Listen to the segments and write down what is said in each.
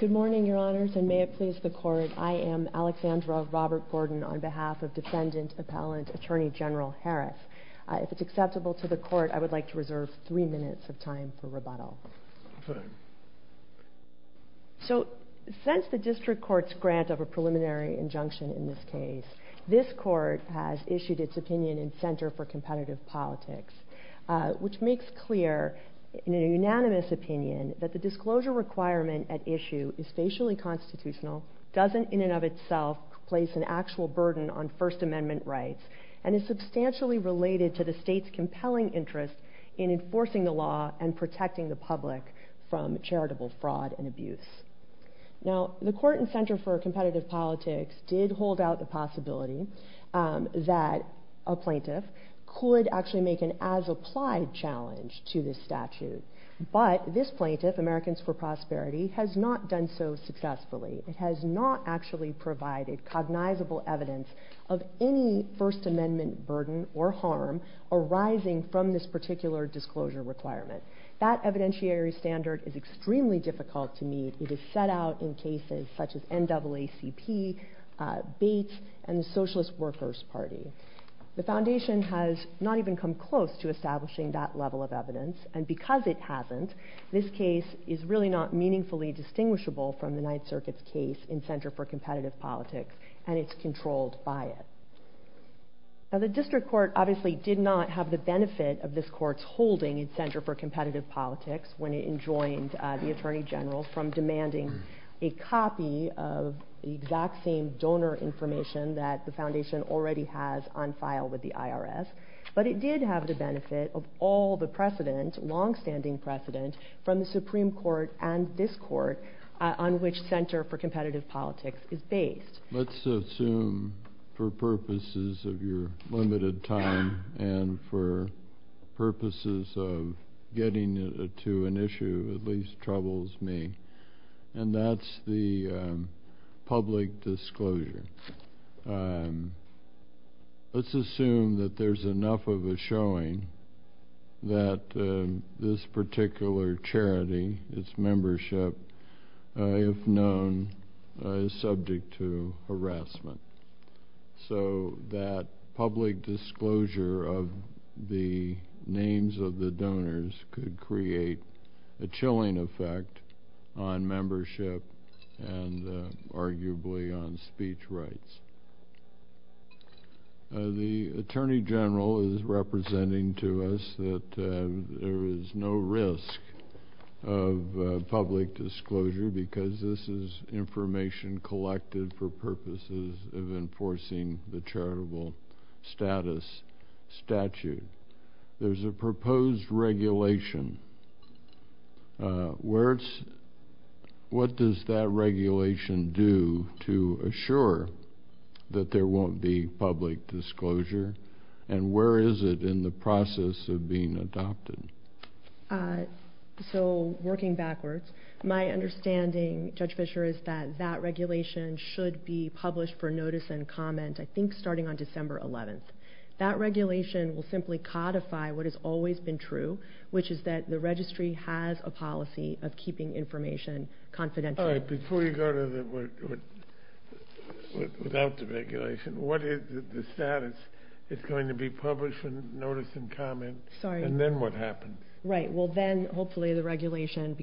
Good morning, Your Honors, and may it please the Court, I am Alexandra Robert Gordon on behalf of Defendant Appellant Attorney General Harris. If it's acceptable to the Court, I would like to reserve three minutes of time for rebuttal. So since the District Court's grant of a preliminary injunction in this case, this Court has issued its opinion in Center for Competitive Politics, which makes clear in a unanimous opinion that the disclosure requirement at issue is facially constitutional, doesn't in and of itself place an actual burden on First Amendment rights, and is substantially related to the State's compelling interest in enforcing the law and protecting the public from charitable fraud and abuse. Now, the Court in Center for Competitive Politics did hold out the possibility that a plaintiff could actually make an as-applied challenge to this statute, but this plaintiff, Americans for Prosperity, has not done so successfully. It has not actually provided cognizable evidence of any First Amendment burden or harm arising from this particular disclosure requirement. That evidentiary standard is extremely difficult to meet. It is set out in cases such as NAACP, Bates, and the Socialist Workers' Party. The Foundation has not even come close to establishing that level of evidence, and because it hasn't, this case is really not meaningfully distinguishable from the Ninth Circuit's case in Center for Competitive Politics, and it's controlled by it. Now, the District Court obviously did not have the benefit of this Court's holding in Competitive Politics when it enjoined the Attorney General from demanding a copy of the exact same donor information that the Foundation already has on file with the IRS, but it did have the benefit of all the precedent, longstanding precedent, from the Supreme Court and this Court on which Center for Competitive Politics is based. Let's assume, for purposes of your limited time and for purposes of getting to an issue that at least troubles me, and that's the public disclosure. Let's assume that there's a public disclosure of the names of the donors that could create a chilling effect on membership and arguably on speech rights. The Attorney General is representing to us that there is no risk of public disclosure because this is information collected for purposes of enforcing the charitable status statute. There's a proposed regulation. What does that regulation do to assure that there won't be public disclosure, and where is it in the process of being adopted? Working backwards, my understanding, Judge Fischer, is that that regulation should be published for notice and comment, I think, starting on December 11th. That regulation will simply codify what has always been true, which is that the Registry has a policy of keeping information confidential. All right. Before you go without the regulation, what is the status? It's going to be published for notice and comment, and then what happens? Right. Well, then, hopefully, the regulation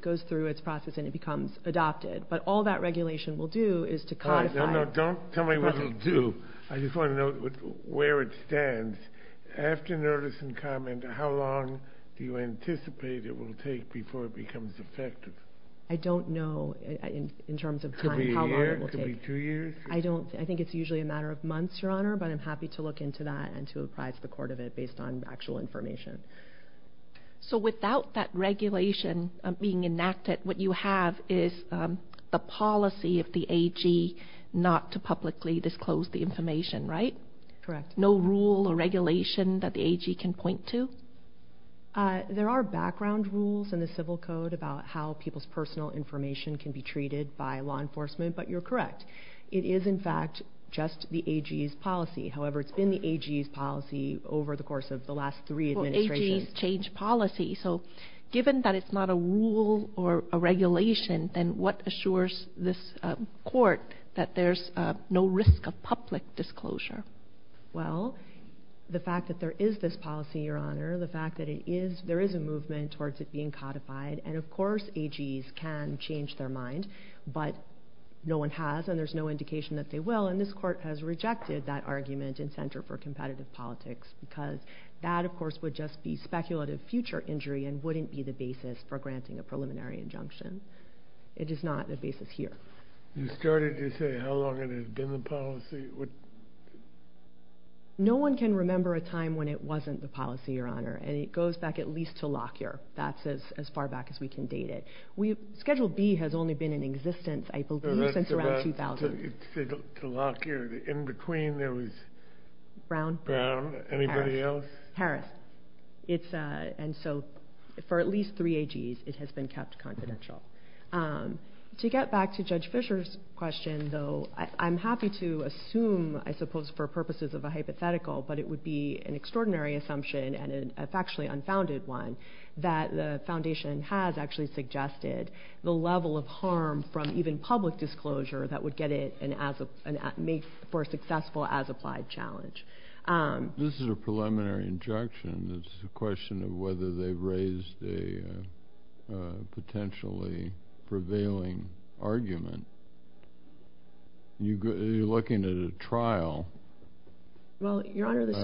goes through its process and it becomes adopted, but all that regulation will do is to codify... No, no. Don't tell me what it'll do. I just want to know where it stands. After notice and comment, how long do you anticipate it will take before it becomes effective? I don't know, in terms of time, how long it will take. Could be a year? Could be two years? I think it's usually a matter of months, Your Honor, but I'm happy to look into that and to apprise the court of it based on actual information. So without that regulation being enacted, what you have is the policy of the AG not to publicly disclose the information, right? Correct. No rule or regulation that the AG can point to? There are background rules in the Civil Code about how people's personal information can be treated by law enforcement, but you're correct. It is, in fact, just the AG's policy. However, it's been the AG's policy over the course of the last three administrations. Well, AG's changed policy, so given that it's not a rule or a regulation, then what assures this court that there's no risk of public disclosure? Well, the fact that there is this policy, Your Honor, the fact that there is a movement towards it being codified, and of course AG's can change their mind, but no one has and there's no indication that they will, and this court has rejected that argument in Center for Competitive Politics because that, of course, would just be speculative future injury and wouldn't be the basis for granting a preliminary injunction. It is not the basis here. You started to say how long it had been the policy? No one can remember a time when it wasn't the policy, Your Honor, and it goes back at least to Lockyer. That's as far back as we can date it. Schedule B has only been in existence, I believe, since around 2000. To Lockyer, in between there was... Brown? Brown. Anybody else? Harris. And so for at least three AG's, it has been kept confidential. To get back to Judge Fischer's question, though, I'm happy to assume, I suppose for purposes of a hypothetical, but it would be an extraordinary assumption, and a factually unfounded one, that the Foundation has actually suggested the level of harm from even public disclosure that would get it and make for a successful as-applied challenge. This is a preliminary injunction. It's a question of whether they've raised a potentially prevailing argument. You're looking at a trial upcoming. Well, Your Honor, the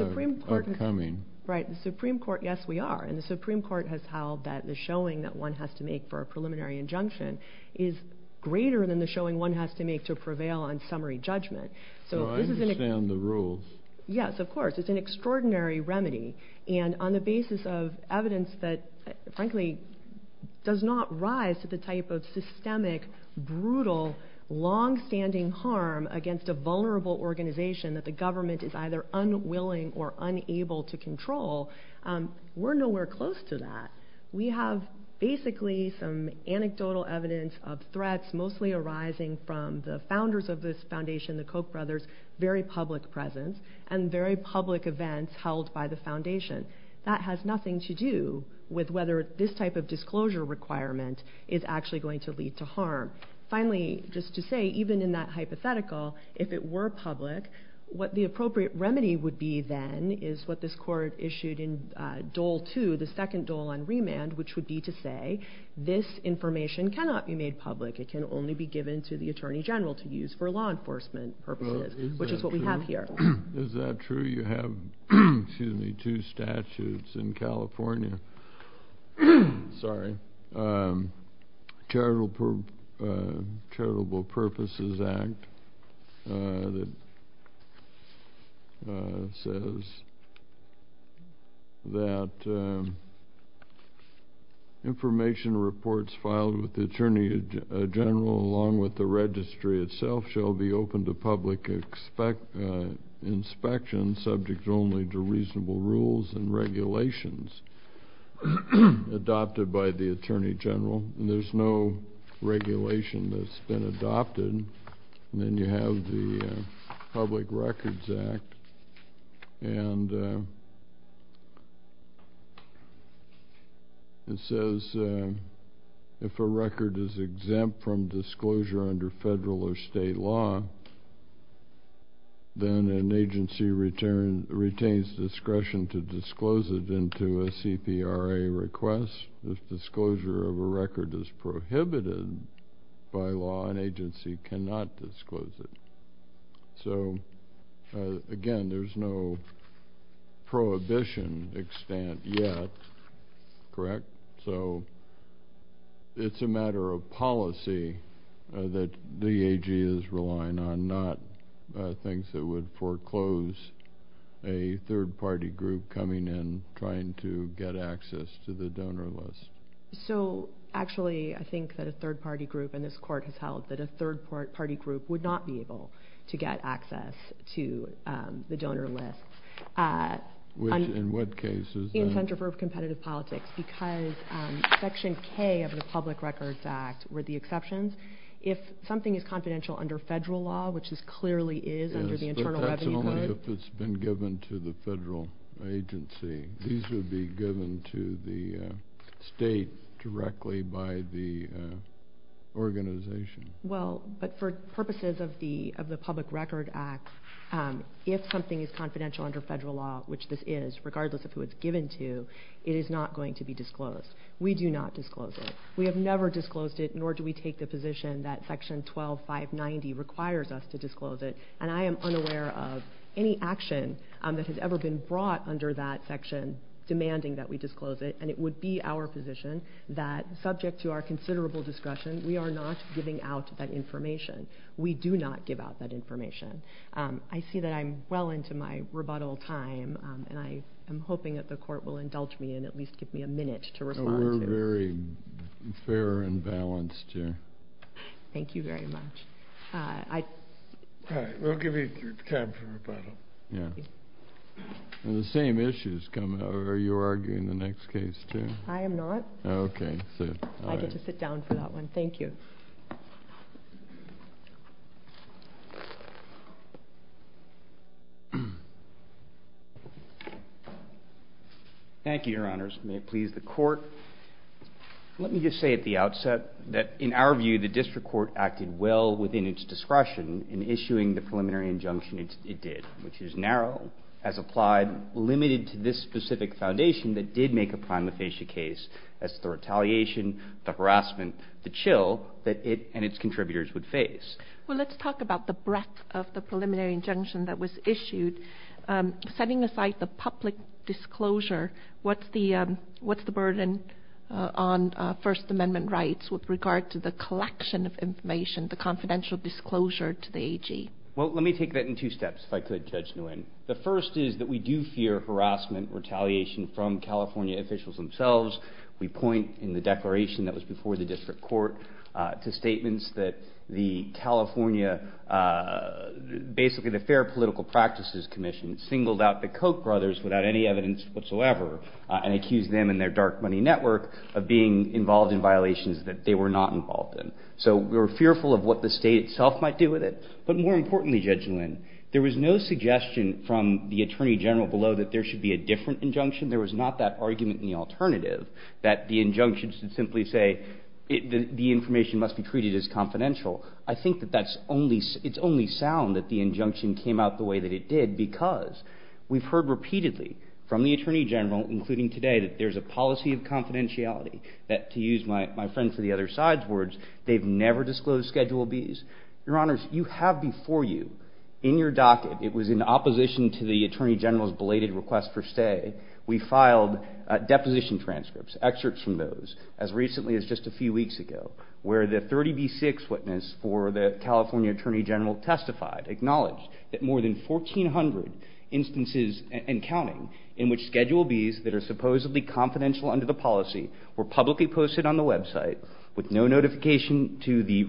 Supreme Court, yes we are, and the Supreme Court has held that the showing that one has to make for a preliminary injunction is greater than the showing one has to make to prevail on summary judgment. So I understand the rules. Yes, of course. It's an extraordinary remedy, and on the basis of evidence that, frankly, does not rise to the type of systemic, brutal, long-standing harm against a vulnerable organization that the government is either unwilling or unable to control, we're nowhere close to that. We have basically some anecdotal evidence of threats mostly arising from the founders of this Foundation, the Koch brothers, very public presence, and very public events held by the Foundation. That has nothing to do with whether this type of disclosure requirement is actually going to lead to harm. Finally, just to say, even in that hypothetical, if it were public, what the appropriate remedy would be then is what this Court issued in Dole II, the second dole on remand, which would be to say, this information cannot be made public. It can only be given to the Attorney General to use for law enforcement purposes, which is what we have here. Is that true? You have, excuse me, two statutes in California, sorry, Charitable Purposes Act that says that information reports filed with the Attorney General along with the registry itself shall be open to public inspection subject only to reasonable rules and regulations adopted by the Attorney General. There's no regulation that's been adopted. Then you have the Public Records Act, and it says if a record is exempt from disclosure under federal or state law, then an agency retains discretion to disclose it into a separate agency. The CPRA requests if disclosure of a record is prohibited by law, an agency cannot disclose it. So again, there's no prohibition extent yet, correct? So it's a matter of policy that the AG is relying on, not things that would foreclose a third-party group coming in trying to get access to the donor list. So actually, I think that a third-party group, and this Court has held that a third-party group would not be able to get access to the donor list. Which, in what cases? In centrifugal competitive politics, because Section K of the Public Records Act were the exceptions. If something is confidential under federal law, which this clearly is under the federal agency, these would be given to the state directly by the organization. Well, but for purposes of the Public Records Act, if something is confidential under federal law, which this is, regardless of who it's given to, it is not going to be disclosed. We do not disclose it. We have never disclosed it, nor do we take the position that Section 112, 590 requires us to disclose it. And I am unaware of any action that has ever been brought under that section demanding that we disclose it. And it would be our position that, subject to our considerable discussion, we are not giving out that information. We do not give out that information. I see that I'm well into my rebuttal time, and I am hoping that the Court will indulge me and at least give me a minute to respond to it. It's very fair and balanced here. Thank you very much. All right. We'll give you time for rebuttal. Yeah. And the same issues come up. Are you arguing the next case, too? I am not. Okay. I get to sit down for that one. Thank you. Thank you, Your Honors. May it please the Court. Let me just say at the outset that, in our view, the district court acted well within its discretion in issuing the preliminary injunction it did, which is narrow, as applied limited to this specific foundation that did make a primal facie case. That's the retaliation, the harassment, the chill, that it, as a district court, and its contributors would face. Well, let's talk about the breadth of the preliminary injunction that was issued. Setting aside the public disclosure, what's the burden on First Amendment rights with regard to the collection of information, the confidential disclosure to the AG? Well, let me take that in two steps, if I could, Judge Nguyen. The first is that we do fear harassment, retaliation from California officials themselves. We point in the declaration that was before the district court to statements that the California, basically the Fair Political Practices Commission, singled out the Koch brothers without any evidence whatsoever and accused them and their dark money network of being involved in violations that they were not involved in. So we were fearful of what the state itself might do with it. But more importantly, Judge Nguyen, there was no suggestion from the Attorney General below that there should be a different injunction. There was not that argument in the alternative that the injunction should simply say the information must be treated as confidential. I think that that's only – it's only sound that the injunction came out the way that it did because we've heard repeatedly from the Attorney General, including today, that there's a policy of confidentiality, that, to use my friend from the other side's words, they've never disclosed Schedule Bs. Your Honors, you have before you in your docket – it was in opposition to the Attorney General's belated request for stay – we filed deposition transcripts, excerpts from those, as recently as just a few weeks ago, where the 30B6 witness for the California Attorney General testified, acknowledged that more than 1,400 instances and counting in which Schedule Bs that are supposedly confidential under the policy were publicly posted on the website with no notification to the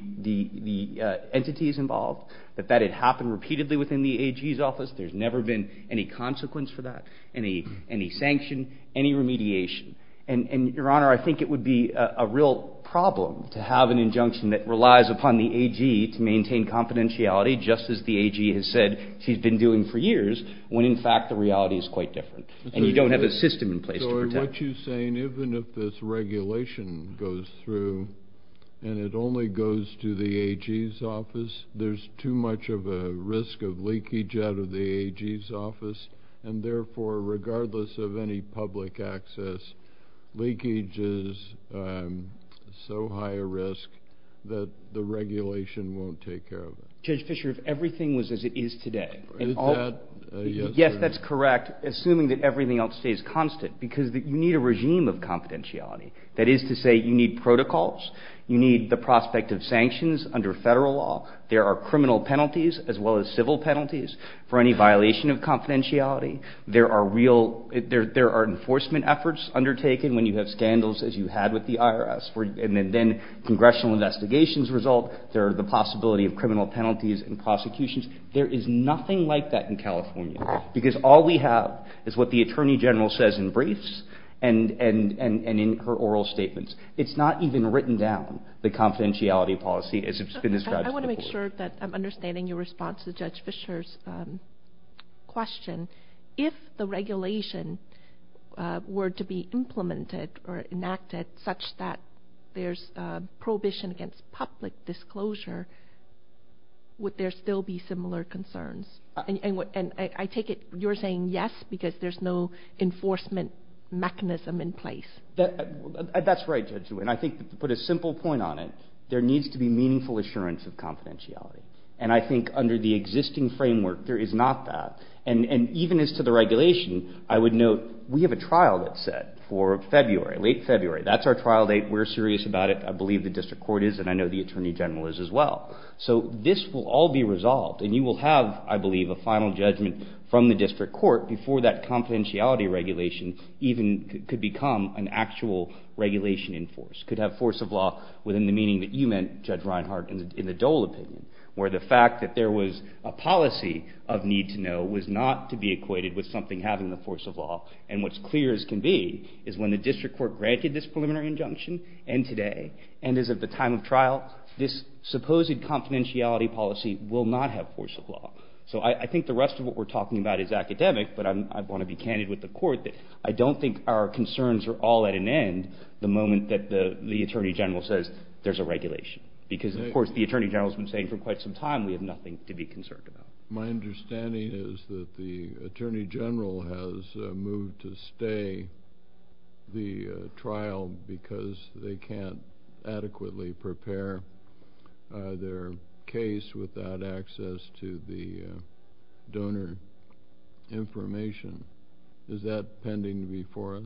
entities involved, that that had happened repeatedly within the AG's office. There's never been any consequence for that, any sanction, any remediation. And, Your Honor, I think it would be a real problem to have an injunction that relies upon the AG to maintain confidentiality, just as the AG has said she's been doing for years, when in fact the reality is quite different, and you don't have a system in place to protect it. So what you're saying, even if this regulation goes through and it only goes to the AG's office, there's too much of a risk of leakage out of the AG's office, and therefore, regardless of any public access, leakage is so high a risk that the regulation won't take care of it. Judge Fischer, if everything was as it is today – Is that a yes or a no? Yes, that's correct, assuming that everything else stays constant, because you need a regime of confidentiality. That is to say, you need protocols. You need the prospect of sanctions under federal law. There are criminal penalties as well as civil penalties for any violation of confidentiality. There are real – there are enforcement efforts undertaken when you have scandals as you had with the IRS. And then congressional investigations result, there are the possibility of criminal penalties and prosecutions. There is nothing like that in California, because all we have is what the Attorney General says in briefs and in her oral statements. It's not even written down, the confidentiality policy, as it's been described I want to make sure that I'm understanding your response to Judge Fischer's question. If the regulation were to be implemented or enacted such that there's prohibition against public disclosure, would there still be similar concerns? And I take it you're saying yes, because there's no enforcement mechanism in place. That's right, Judge. And I think to put a simple point on it, there needs to be meaningful assurance of confidentiality. And I think under the existing framework, there is not that. And even as to the regulation, I would note we have a trial that's set for February, late February. That's our trial date. We're serious about it. I believe the district court is, and I know the Attorney General is as well. So this will all be resolved, and you will have, I believe, a final judgment from the district court before that confidentiality regulation even could become an actual regulation in force, could have force of law within the meaning that you meant, Judge Reinhart, in the Dole opinion, where the fact that there was a policy of need to know was not to be equated with something having the force of law. And what's clear as can be is when the district court granted this preliminary injunction and today and is at the time of trial, this supposed confidentiality policy will not have force of law. So I think the rest of what we're talking about is academic, but I want to be candid with the court that I don't think our concerns are all at an end the moment that the Attorney General says there's a regulation. Because, of course, the Attorney General has been saying for quite some time we have nothing to be concerned about. My understanding is that the Attorney General has moved to stay the trial because they can't be held accountable for the fact that we're not able to do that. Does that mean that we're not going to be able to do it? Is that pending before us?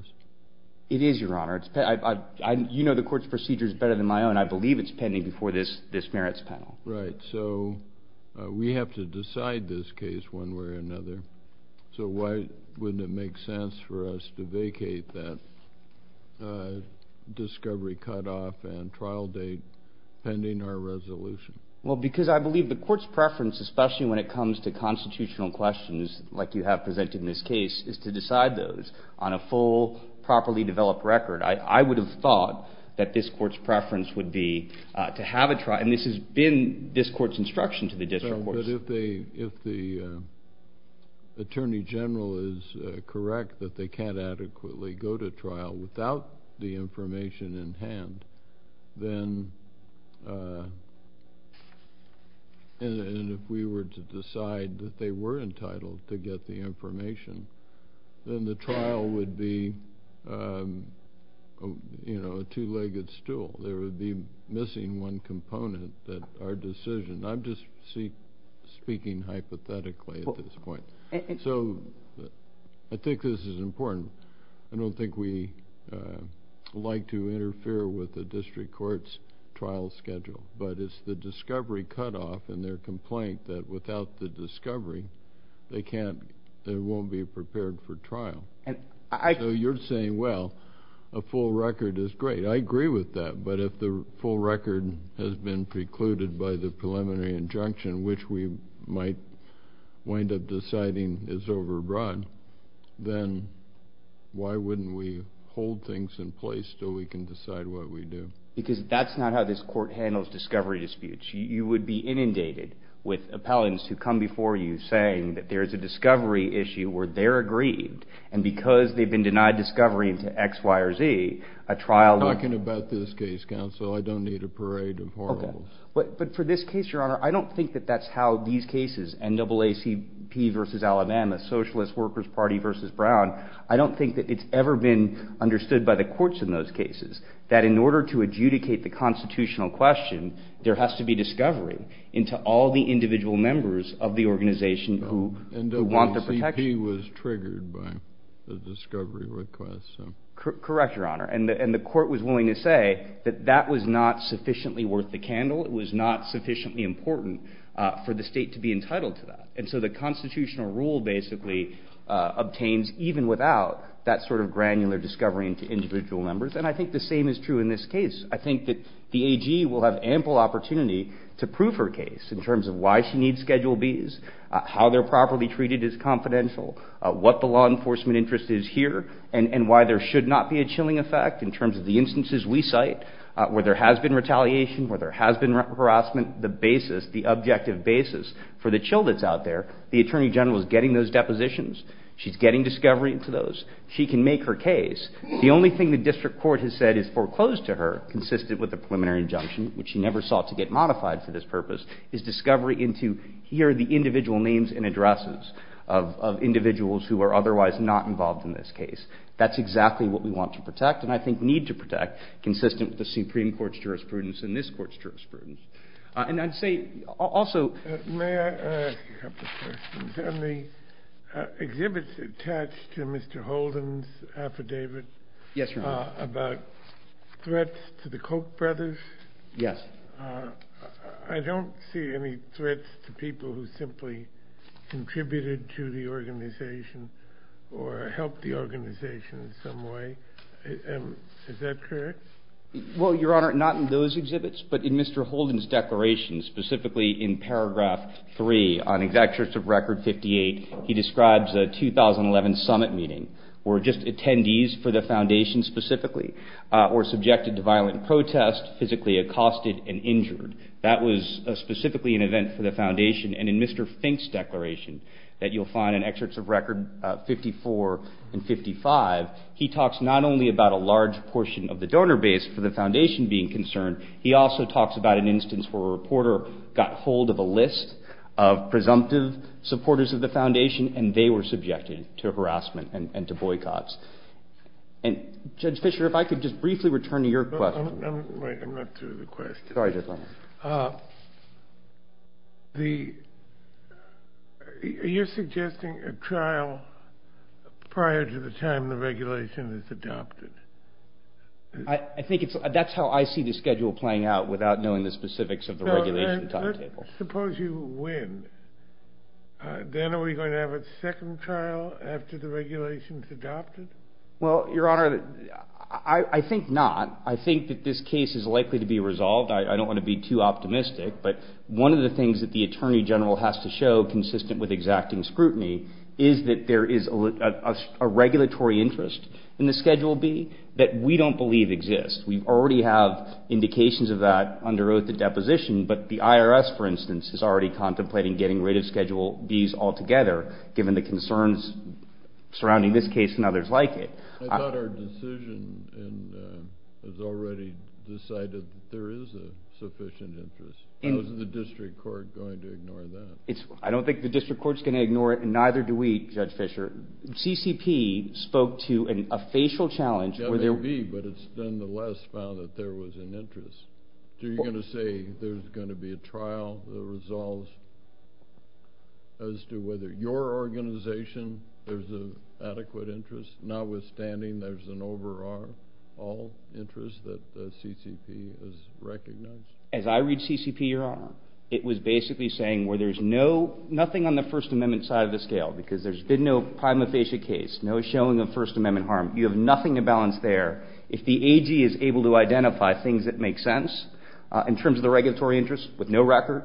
It is, Your Honor. You know the court's procedure is better than my own. I believe it's pending before this merits panel. So we have to decide this case one way or another. So why wouldn't it make sense for us to vacate that discovery cutoff and trial date pending our resolution? Well, because I believe the court's preference, especially when it comes to constitutional questions like you have presented in this case, is to decide those on a full, properly developed record. I would have thought that this court's preference would be to have a trial. And this has been this court's instruction to the district courts. But if the Attorney General is correct that they can't adequately go to trial without the information in hand, and if we were to decide that they were entitled to get the information, then the trial would be a two-legged stool. There would be missing one component that our decision. I'm just speaking hypothetically at this point. So I think this is important. I don't think we like to interfere with the district court's trial schedule. But it's the discovery cutoff and their complaint that without the discovery, they won't be prepared for trial. So you're saying, well, a full record is great. I agree with that. But if the full record has been precluded by the preliminary injunction, which we might wind up deciding is overbroad, then why wouldn't we hold things in place till we can decide what we do? Because that's not how this court handles discovery disputes. You would be inundated with appellants who come before you saying that there's a discovery issue where they're aggrieved. And because they've been denied discovery into X, Y, or Z, a trial would be inundated with appellants who would say, well, I don't need a case counsel. I don't need a parade of horribles. But for this case, Your Honor, I don't think that that's how these cases, NAACP versus Alabama, Socialist Workers' Party versus Brown, I don't think that it's ever been understood by the courts in those cases that in order to adjudicate the constitutional question, there has to be discovery into all the individual members of the organization who want the protection. He was triggered by the discovery request. Correct, Your Honor. And the court was willing to say that that was not sufficiently worth the candle. It was not sufficiently important for the state to be entitled to that. And so the constitutional rule basically obtains even without that sort of granular discovery into individual members. And I think the same is true in this case. I think that the AG will have ample opportunity to prove her case in terms of why she needs Schedule Bs, how they're properly treated as confidential, what the law enforcement interest is here, and why there should not be a chilling effect in terms of the instances we cite where there has been retaliation, where there has been harassment, the basis, the objective basis for the chill that's out there. The Attorney General is getting those depositions. She's getting discovery into those. She can make her case. The only thing the district court has said is foreclosed to her, consistent with the preliminary injunction, which she never sought to get modified for this purpose, is discovery into here are the individual names and addresses of individuals who are otherwise not involved in this case. That's exactly what we want to protect and I think need to protect, consistent with the Supreme Court's jurisprudence and this court's jurisprudence. And I'd say also... May I ask a couple of questions? On the exhibits attached to Mr. Holden's affidavit... Yes, Your Honor. ...about threats to the Koch brothers... Yes. ...I don't see any threats to people who simply contributed to the organization or helped the organization in some way. Is that correct? Well, Your Honor, not in those exhibits, but in Mr. Holden's declaration, specifically in paragraph three on exact use of record 58, he describes a 2011 summit meeting where just attendees for the foundation specifically were subjected to violent protest, physically accosted and injured. That was specifically an event for the foundation. And in Mr. Fink's declaration that you'll find in excerpts of record 54 and 55, he talks not only about a large portion of the donor base for the foundation being concerned, he also talks about an instance where a reporter got hold of a list of presumptive supporters of the foundation and they were subjected to harassment and to boycotts. And, Judge Fischer, if I could just briefly return to your question... I'm not through the question. Sorry, Judge Lehmann. The... You're suggesting a trial prior to the time the regulation is adopted. I think it's... That's how I see the schedule playing out without knowing the specifics of the regulation timetable. Suppose you win. Then are we going to have a second trial after the regulation is adopted? Well, Your Honor, I think not. I think that this case is likely to be resolved. I don't want to be too optimistic, but one of the things that the Attorney General has to show, consistent with exacting scrutiny, is that there is a regulatory interest in the Schedule B that we don't believe exists. We already have indications of that under oath at deposition, but the IRS, for instance, is already contemplating getting rid of Schedule Bs altogether, given the concerns surrounding this case and others like it. I thought our decision has already decided that there is a sufficient interest. How is the District Court going to ignore that? I don't think the District Court is going to ignore it, and neither do we, Judge Fischer. CCP spoke to a facial challenge... That may be, but it's nonetheless found that there was an interest. Are you going to say there's going to be a trial that resolves as to whether your organization there's an adequate interest, notwithstanding there's an overall interest that the CCP has recognized? As I read CCP, Your Honor, it was basically saying where there's nothing on the First Amendment side of the scale, because there's been no prima facie case, no showing of First Amendment harm. You have nothing to balance there. If the AG is able to identify things that make sense in terms of the regulatory interest with no record,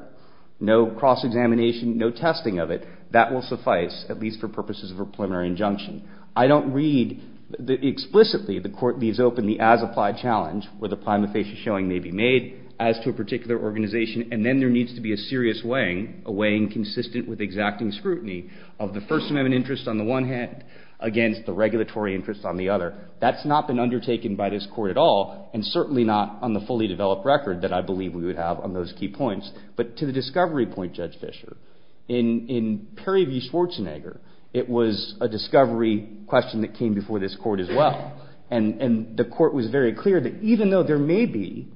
no cross-examination, no testing of it, that will suffice, at least for purposes of a preliminary injunction. I don't read explicitly the Court leaves open the as-applied challenge where the prima facie showing may be made as to a particular organization, and then there needs to be a serious weighing, a weighing consistent with exacting scrutiny of the First Amendment interest on the one hand against the regulatory interest on the other. That's not been undertaken by this Court at all, and certainly not on the fully developed record that I believe we would have on those key points. But to the discovery point, Judge Fischer, in Perry v. Schwarzenegger, it was a discovery question that came before this Court as well. And the Court was very clear that even though there may be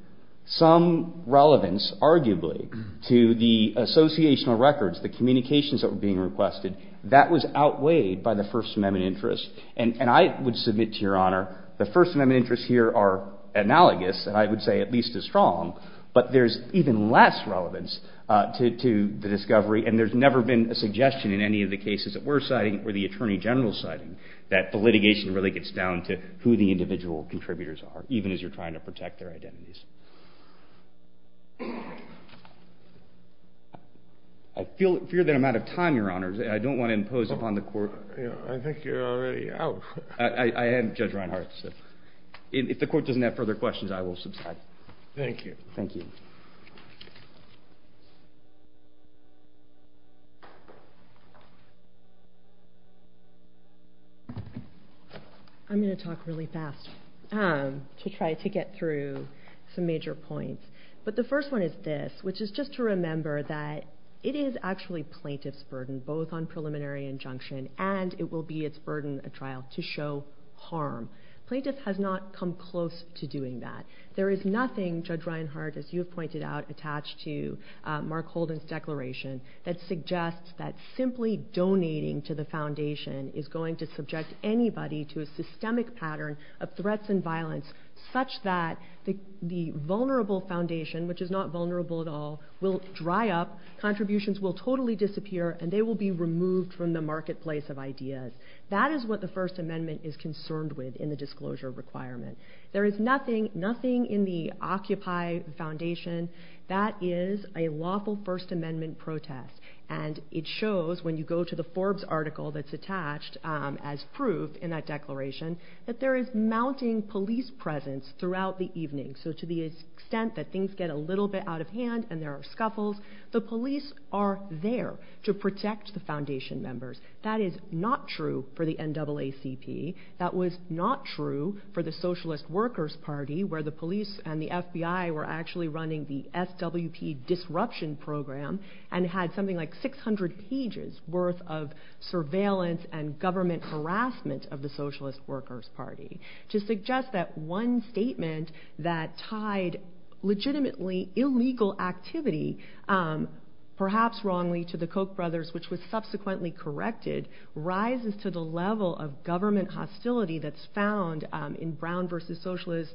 some relevance, arguably, to the associational records, the communications that were being requested, that was outweighed by the First Amendment interest. And I would submit to Your Honor, the First Amendment interests here are analogous, and I would say at least as strong, but there's even less relevance to the discovery, and there's never been a suggestion in any of the cases that we're citing or the Attorney General's citing that the litigation really gets down to who the individual contributors are, even as you're trying to protect their identities. I fear that I'm out of time, Your Honor. I don't want to impose upon the Court. I think you're already out. I am, Judge Reinhart. If the Court doesn't have further questions, I will subside. Thank you. Thank you. I'm going to talk really fast to try to get through some major points. But the first one is this, which is just to remember that it is actually plaintiff's burden, both on preliminary injunction and it will be its burden at trial, to show harm. Plaintiff has not come close to doing that. There is nothing, Judge Reinhart, as you have pointed out, attached to Mark Holden's declaration that suggests that simply donating to the Foundation is going to subject anybody to a systemic pattern of threats and violence such that the vulnerable Foundation, which is not vulnerable at all, will dry up, contributions will totally disappear, and they will be removed from the marketplace of ideas. That is what the First Amendment is concerned with in the disclosure requirement. There is nothing in the Occupy Foundation that is a lawful First Amendment protest. And it shows, when you go to the Forbes article that's attached as proof in that declaration, that there is mounting police presence throughout the evening. So to the extent that things get a little bit out of hand and there are scuffles, the police are there to protect the Foundation members. That is not true for the NAACP. That was not true for the Socialist Workers Party, where the police and the FBI were actually running the SWP disruption program and had something like 600 pages worth of surveillance and government harassment of the Socialist Workers Party. To suggest that one statement that tied legitimately illegal activity, perhaps wrongly to the Koch brothers, which was subsequently corrected, rises to the level of government hostility that's found in Brown versus Socialist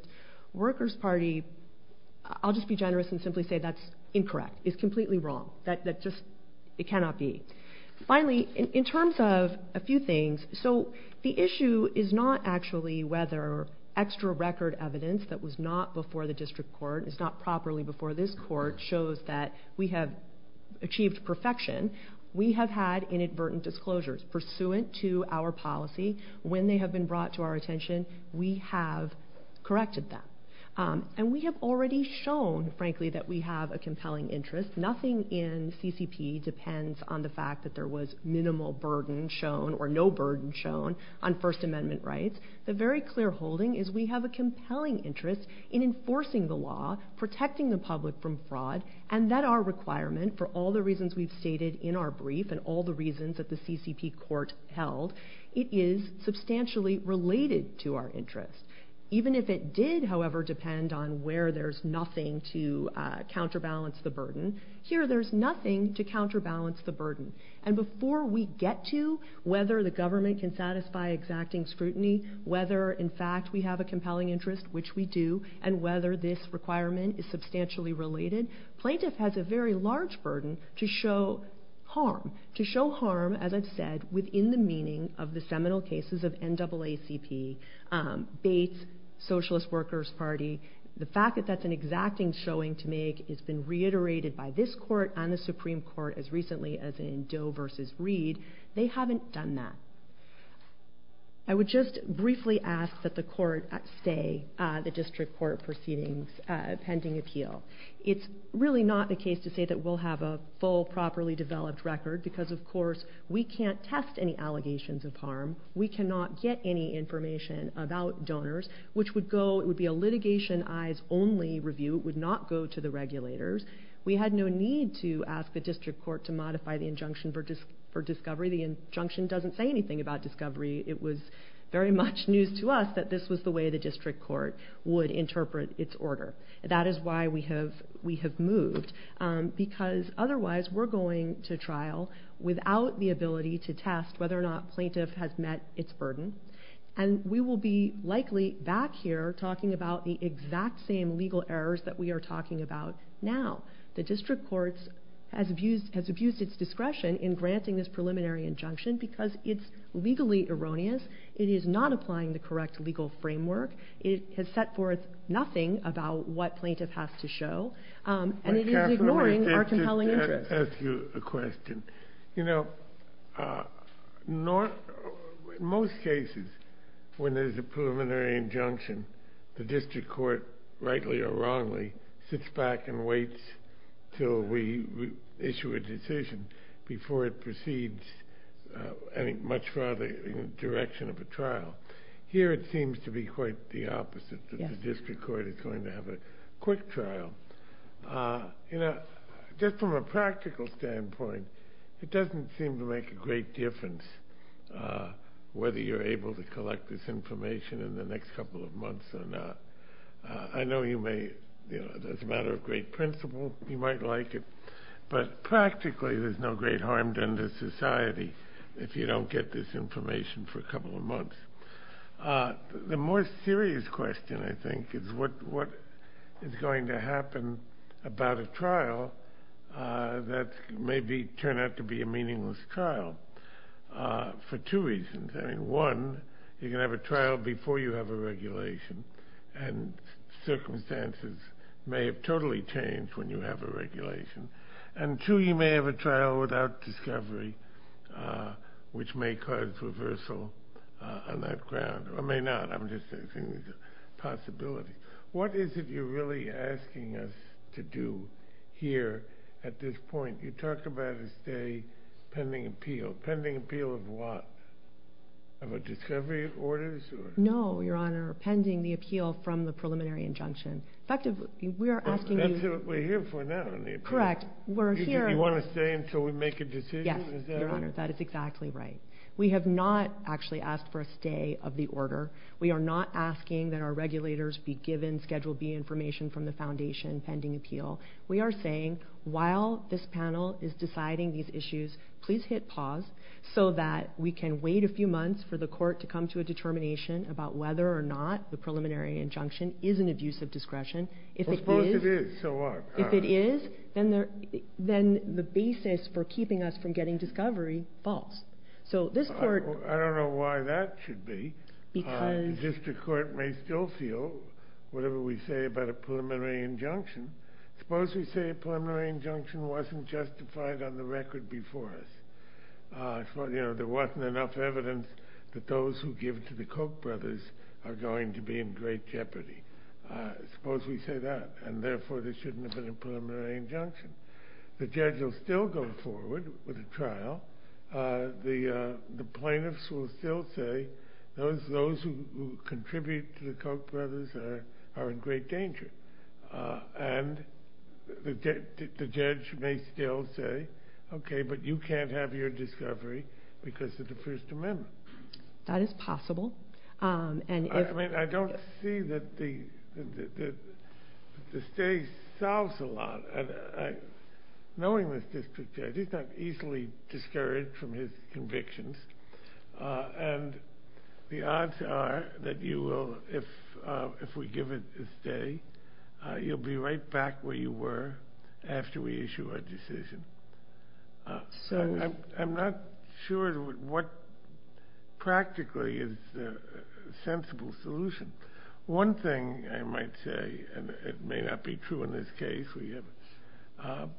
Workers Party, I'll just be generous and simply say that's incorrect. It's completely wrong. It cannot be. Finally, in terms of a few things, so the issue is not actually whether extra record evidence that was not before the district court, is not properly before this court, shows that we have achieved perfection. We have had inadvertent disclosures pursuant to our policy. When they have been brought to our attention, we have corrected them. And we have already shown, frankly, that we have a compelling interest. Nothing in CCP depends on the fact that there was minimal burden shown or no burden shown on First Amendment rights. The very clear holding is we have a compelling interest in enforcing the law, protecting the public from fraud, and that our requirement, for all the reasons we've stated in our brief and all the reasons that the CCP court held, it is substantially related to our interest. Even if it did, however, depend on where there's nothing to counterbalance the burden, here there's nothing to counterbalance the burden. And before we get to whether the government can satisfy exacting scrutiny, whether in a compelling interest, which we do, and whether this requirement is substantially related, plaintiff has a very large burden to show harm. To show harm, as I've said, within the meaning of the seminal cases of NAACP, Bates, Socialist Workers Party. The fact that that's an exacting showing to make has been reiterated by this court and the Supreme Court as recently as in Doe versus Reed. They haven't done that. I would just briefly ask that the court stay the district court proceedings pending appeal. It's really not the case to say that we'll have a full, properly developed record because of course we can't test any allegations of harm. We cannot get any information about donors, which would go, it would be a litigation eyes only review. It would not go to the regulators. We had no need to ask the district court to modify the injunction for discovery. The injunction doesn't say anything about discovery. It was very much news to us that this was the way the district court would interpret its order. That is why we have moved because otherwise we're going to trial without the ability to test whether or not plaintiff has met its burden. And we will be likely back here talking about the exact same legal errors that we are talking about now. The district courts has abused its discretion in granting this preliminary injunction because it's legally erroneous. It is not applying the correct legal framework. It has set forth nothing about what plaintiff has to show and it is ignoring our compelling interest. I have to ask you a question. You know, most cases when there's a preliminary injunction, the district court, rightly or wrongly, has to wait until we issue a decision before it proceeds much further in the direction of a trial. Here, it seems to be quite the opposite. The district court is going to have a quick trial. Just from a practical standpoint, it doesn't seem to make a great difference whether you're able to collect this information in the next couple of months or not. I know it's a matter of great principle. You might like it. But practically, there's no great harm done to society if you don't get this information for a couple of months. The more serious question, I think, is what is going to happen about a trial that may turn out to be a meaningless trial for two reasons. I mean, one, you're going to have a trial before you have a regulation and circumstances may have totally changed when you have a regulation. And two, you may have a trial without discovery, which may cause reversal on that ground. Or may not. I'm just saying there's a possibility. What is it you're really asking us to do here at this point? You talked about a stay pending appeal. Pending appeal of what? Of a discovery order? No, Your Honor. Pending the appeal from the preliminary injunction. That's what we're here for now. Correct. You want to stay until we make a decision? Yes, Your Honor. That is exactly right. We have not actually asked for a stay of the order. We are not asking that our regulators be given Schedule B information from the foundation pending appeal. We are saying, while this panel is deciding these issues, please hit pause so that we can wait a few months for the court to come to a determination about whether or not the preliminary injunction is an abuse of discretion. Well, suppose it is. So what? If it is, then the basis for keeping us from getting discovery falls. I don't know why that should be. The district court may still feel whatever we say about a preliminary injunction. Suppose we say a preliminary injunction wasn't justified on the record before us. There wasn't enough evidence that those who give to the Koch brothers are going to be in great jeopardy. Suppose we say that, and therefore there shouldn't have been a preliminary injunction. The judge will still go forward with a trial. The plaintiffs will still say, those who contribute to the Koch brothers are in great danger. And the judge may still say, okay, but you can't have your discovery because of the First Amendment. That is possible. I mean, I don't see that the stay solves a lot. Knowing this district judge, he's not easily discouraged from his convictions. And the odds are that you will, if we give it a stay, you'll be right back where you were after we issue our decision. So I'm not sure what practically is the sensible solution. One thing I might say, and it may not be true in this case,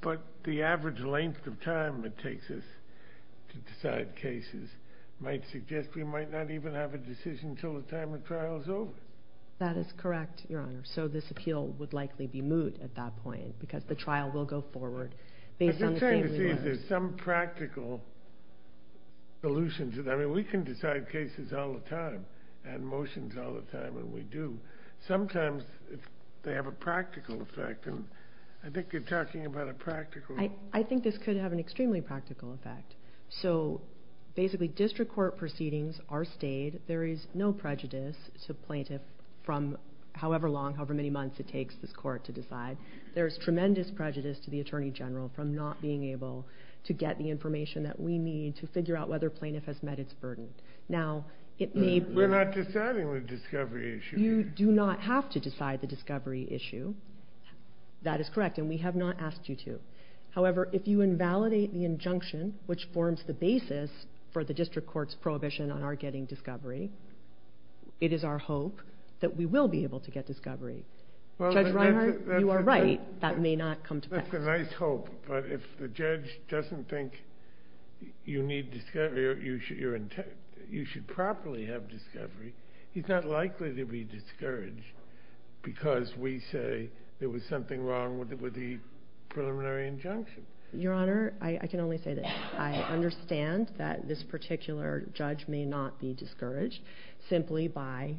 but the average length of time it takes us to decide cases might suggest we might not even have a decision until the time of trial is over. That is correct, Your Honor. So this appeal would likely be moot at that point because the trial will go forward based on the thing we learned. But I'm trying to see if there's some practical solution to that. I mean, we can decide cases all the time and motions all the time, and we do. Sometimes they have a practical effect. And I think you're talking about a practical... I think this could have an extremely practical effect. So basically, district court proceedings are stayed. There is no prejudice to plaintiff from however long, however many months it takes this court to decide. There is tremendous prejudice to the Attorney General from not being able to get the information that we need to figure out whether plaintiff has met its burden. Now, it may be... We're not deciding the discovery issue. You do not have to decide the discovery issue. That is correct, and we have not asked you to. However, if you invalidate the injunction, which forms the basis for the district court's prohibition on our getting discovery, it is our hope that we will be able to get discovery. That may not come to pass. That's a nice hope, but if the judge doesn't think you need discovery or you should properly have discovery, he's not likely to be discouraged because we say there was something wrong with the preliminary injunction. Your Honor, I can only say this. I understand that this particular judge may not be discouraged simply by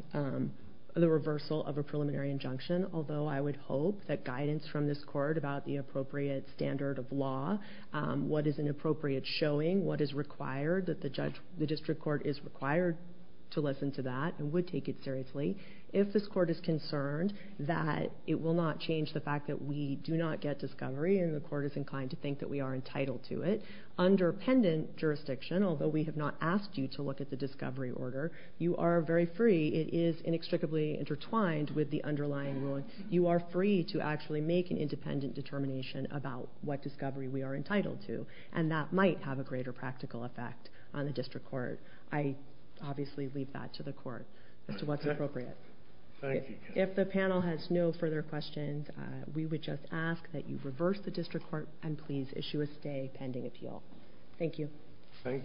the reversal of a preliminary injunction, although I would hope that guidance from this court about the appropriate standard of law, what is an appropriate showing, what is required, that the district court is required to listen to that and would take it seriously. If this court is concerned that it will not change the fact that we do not get discovery and the court is inclined to think that we are entitled to it, under pendant jurisdiction, although we have not asked you to look at the discovery order, you are very free. It is inextricably intertwined with the underlying ruling. You are free to actually make an independent determination about what discovery we are entitled to and that might have a greater practical effect on the district court. I obviously leave that to the court as to what's appropriate. Thank you. If the panel has no further questions, we would just ask that you reverse the district court and please issue a stay pending appeal. Thank you. Thank you.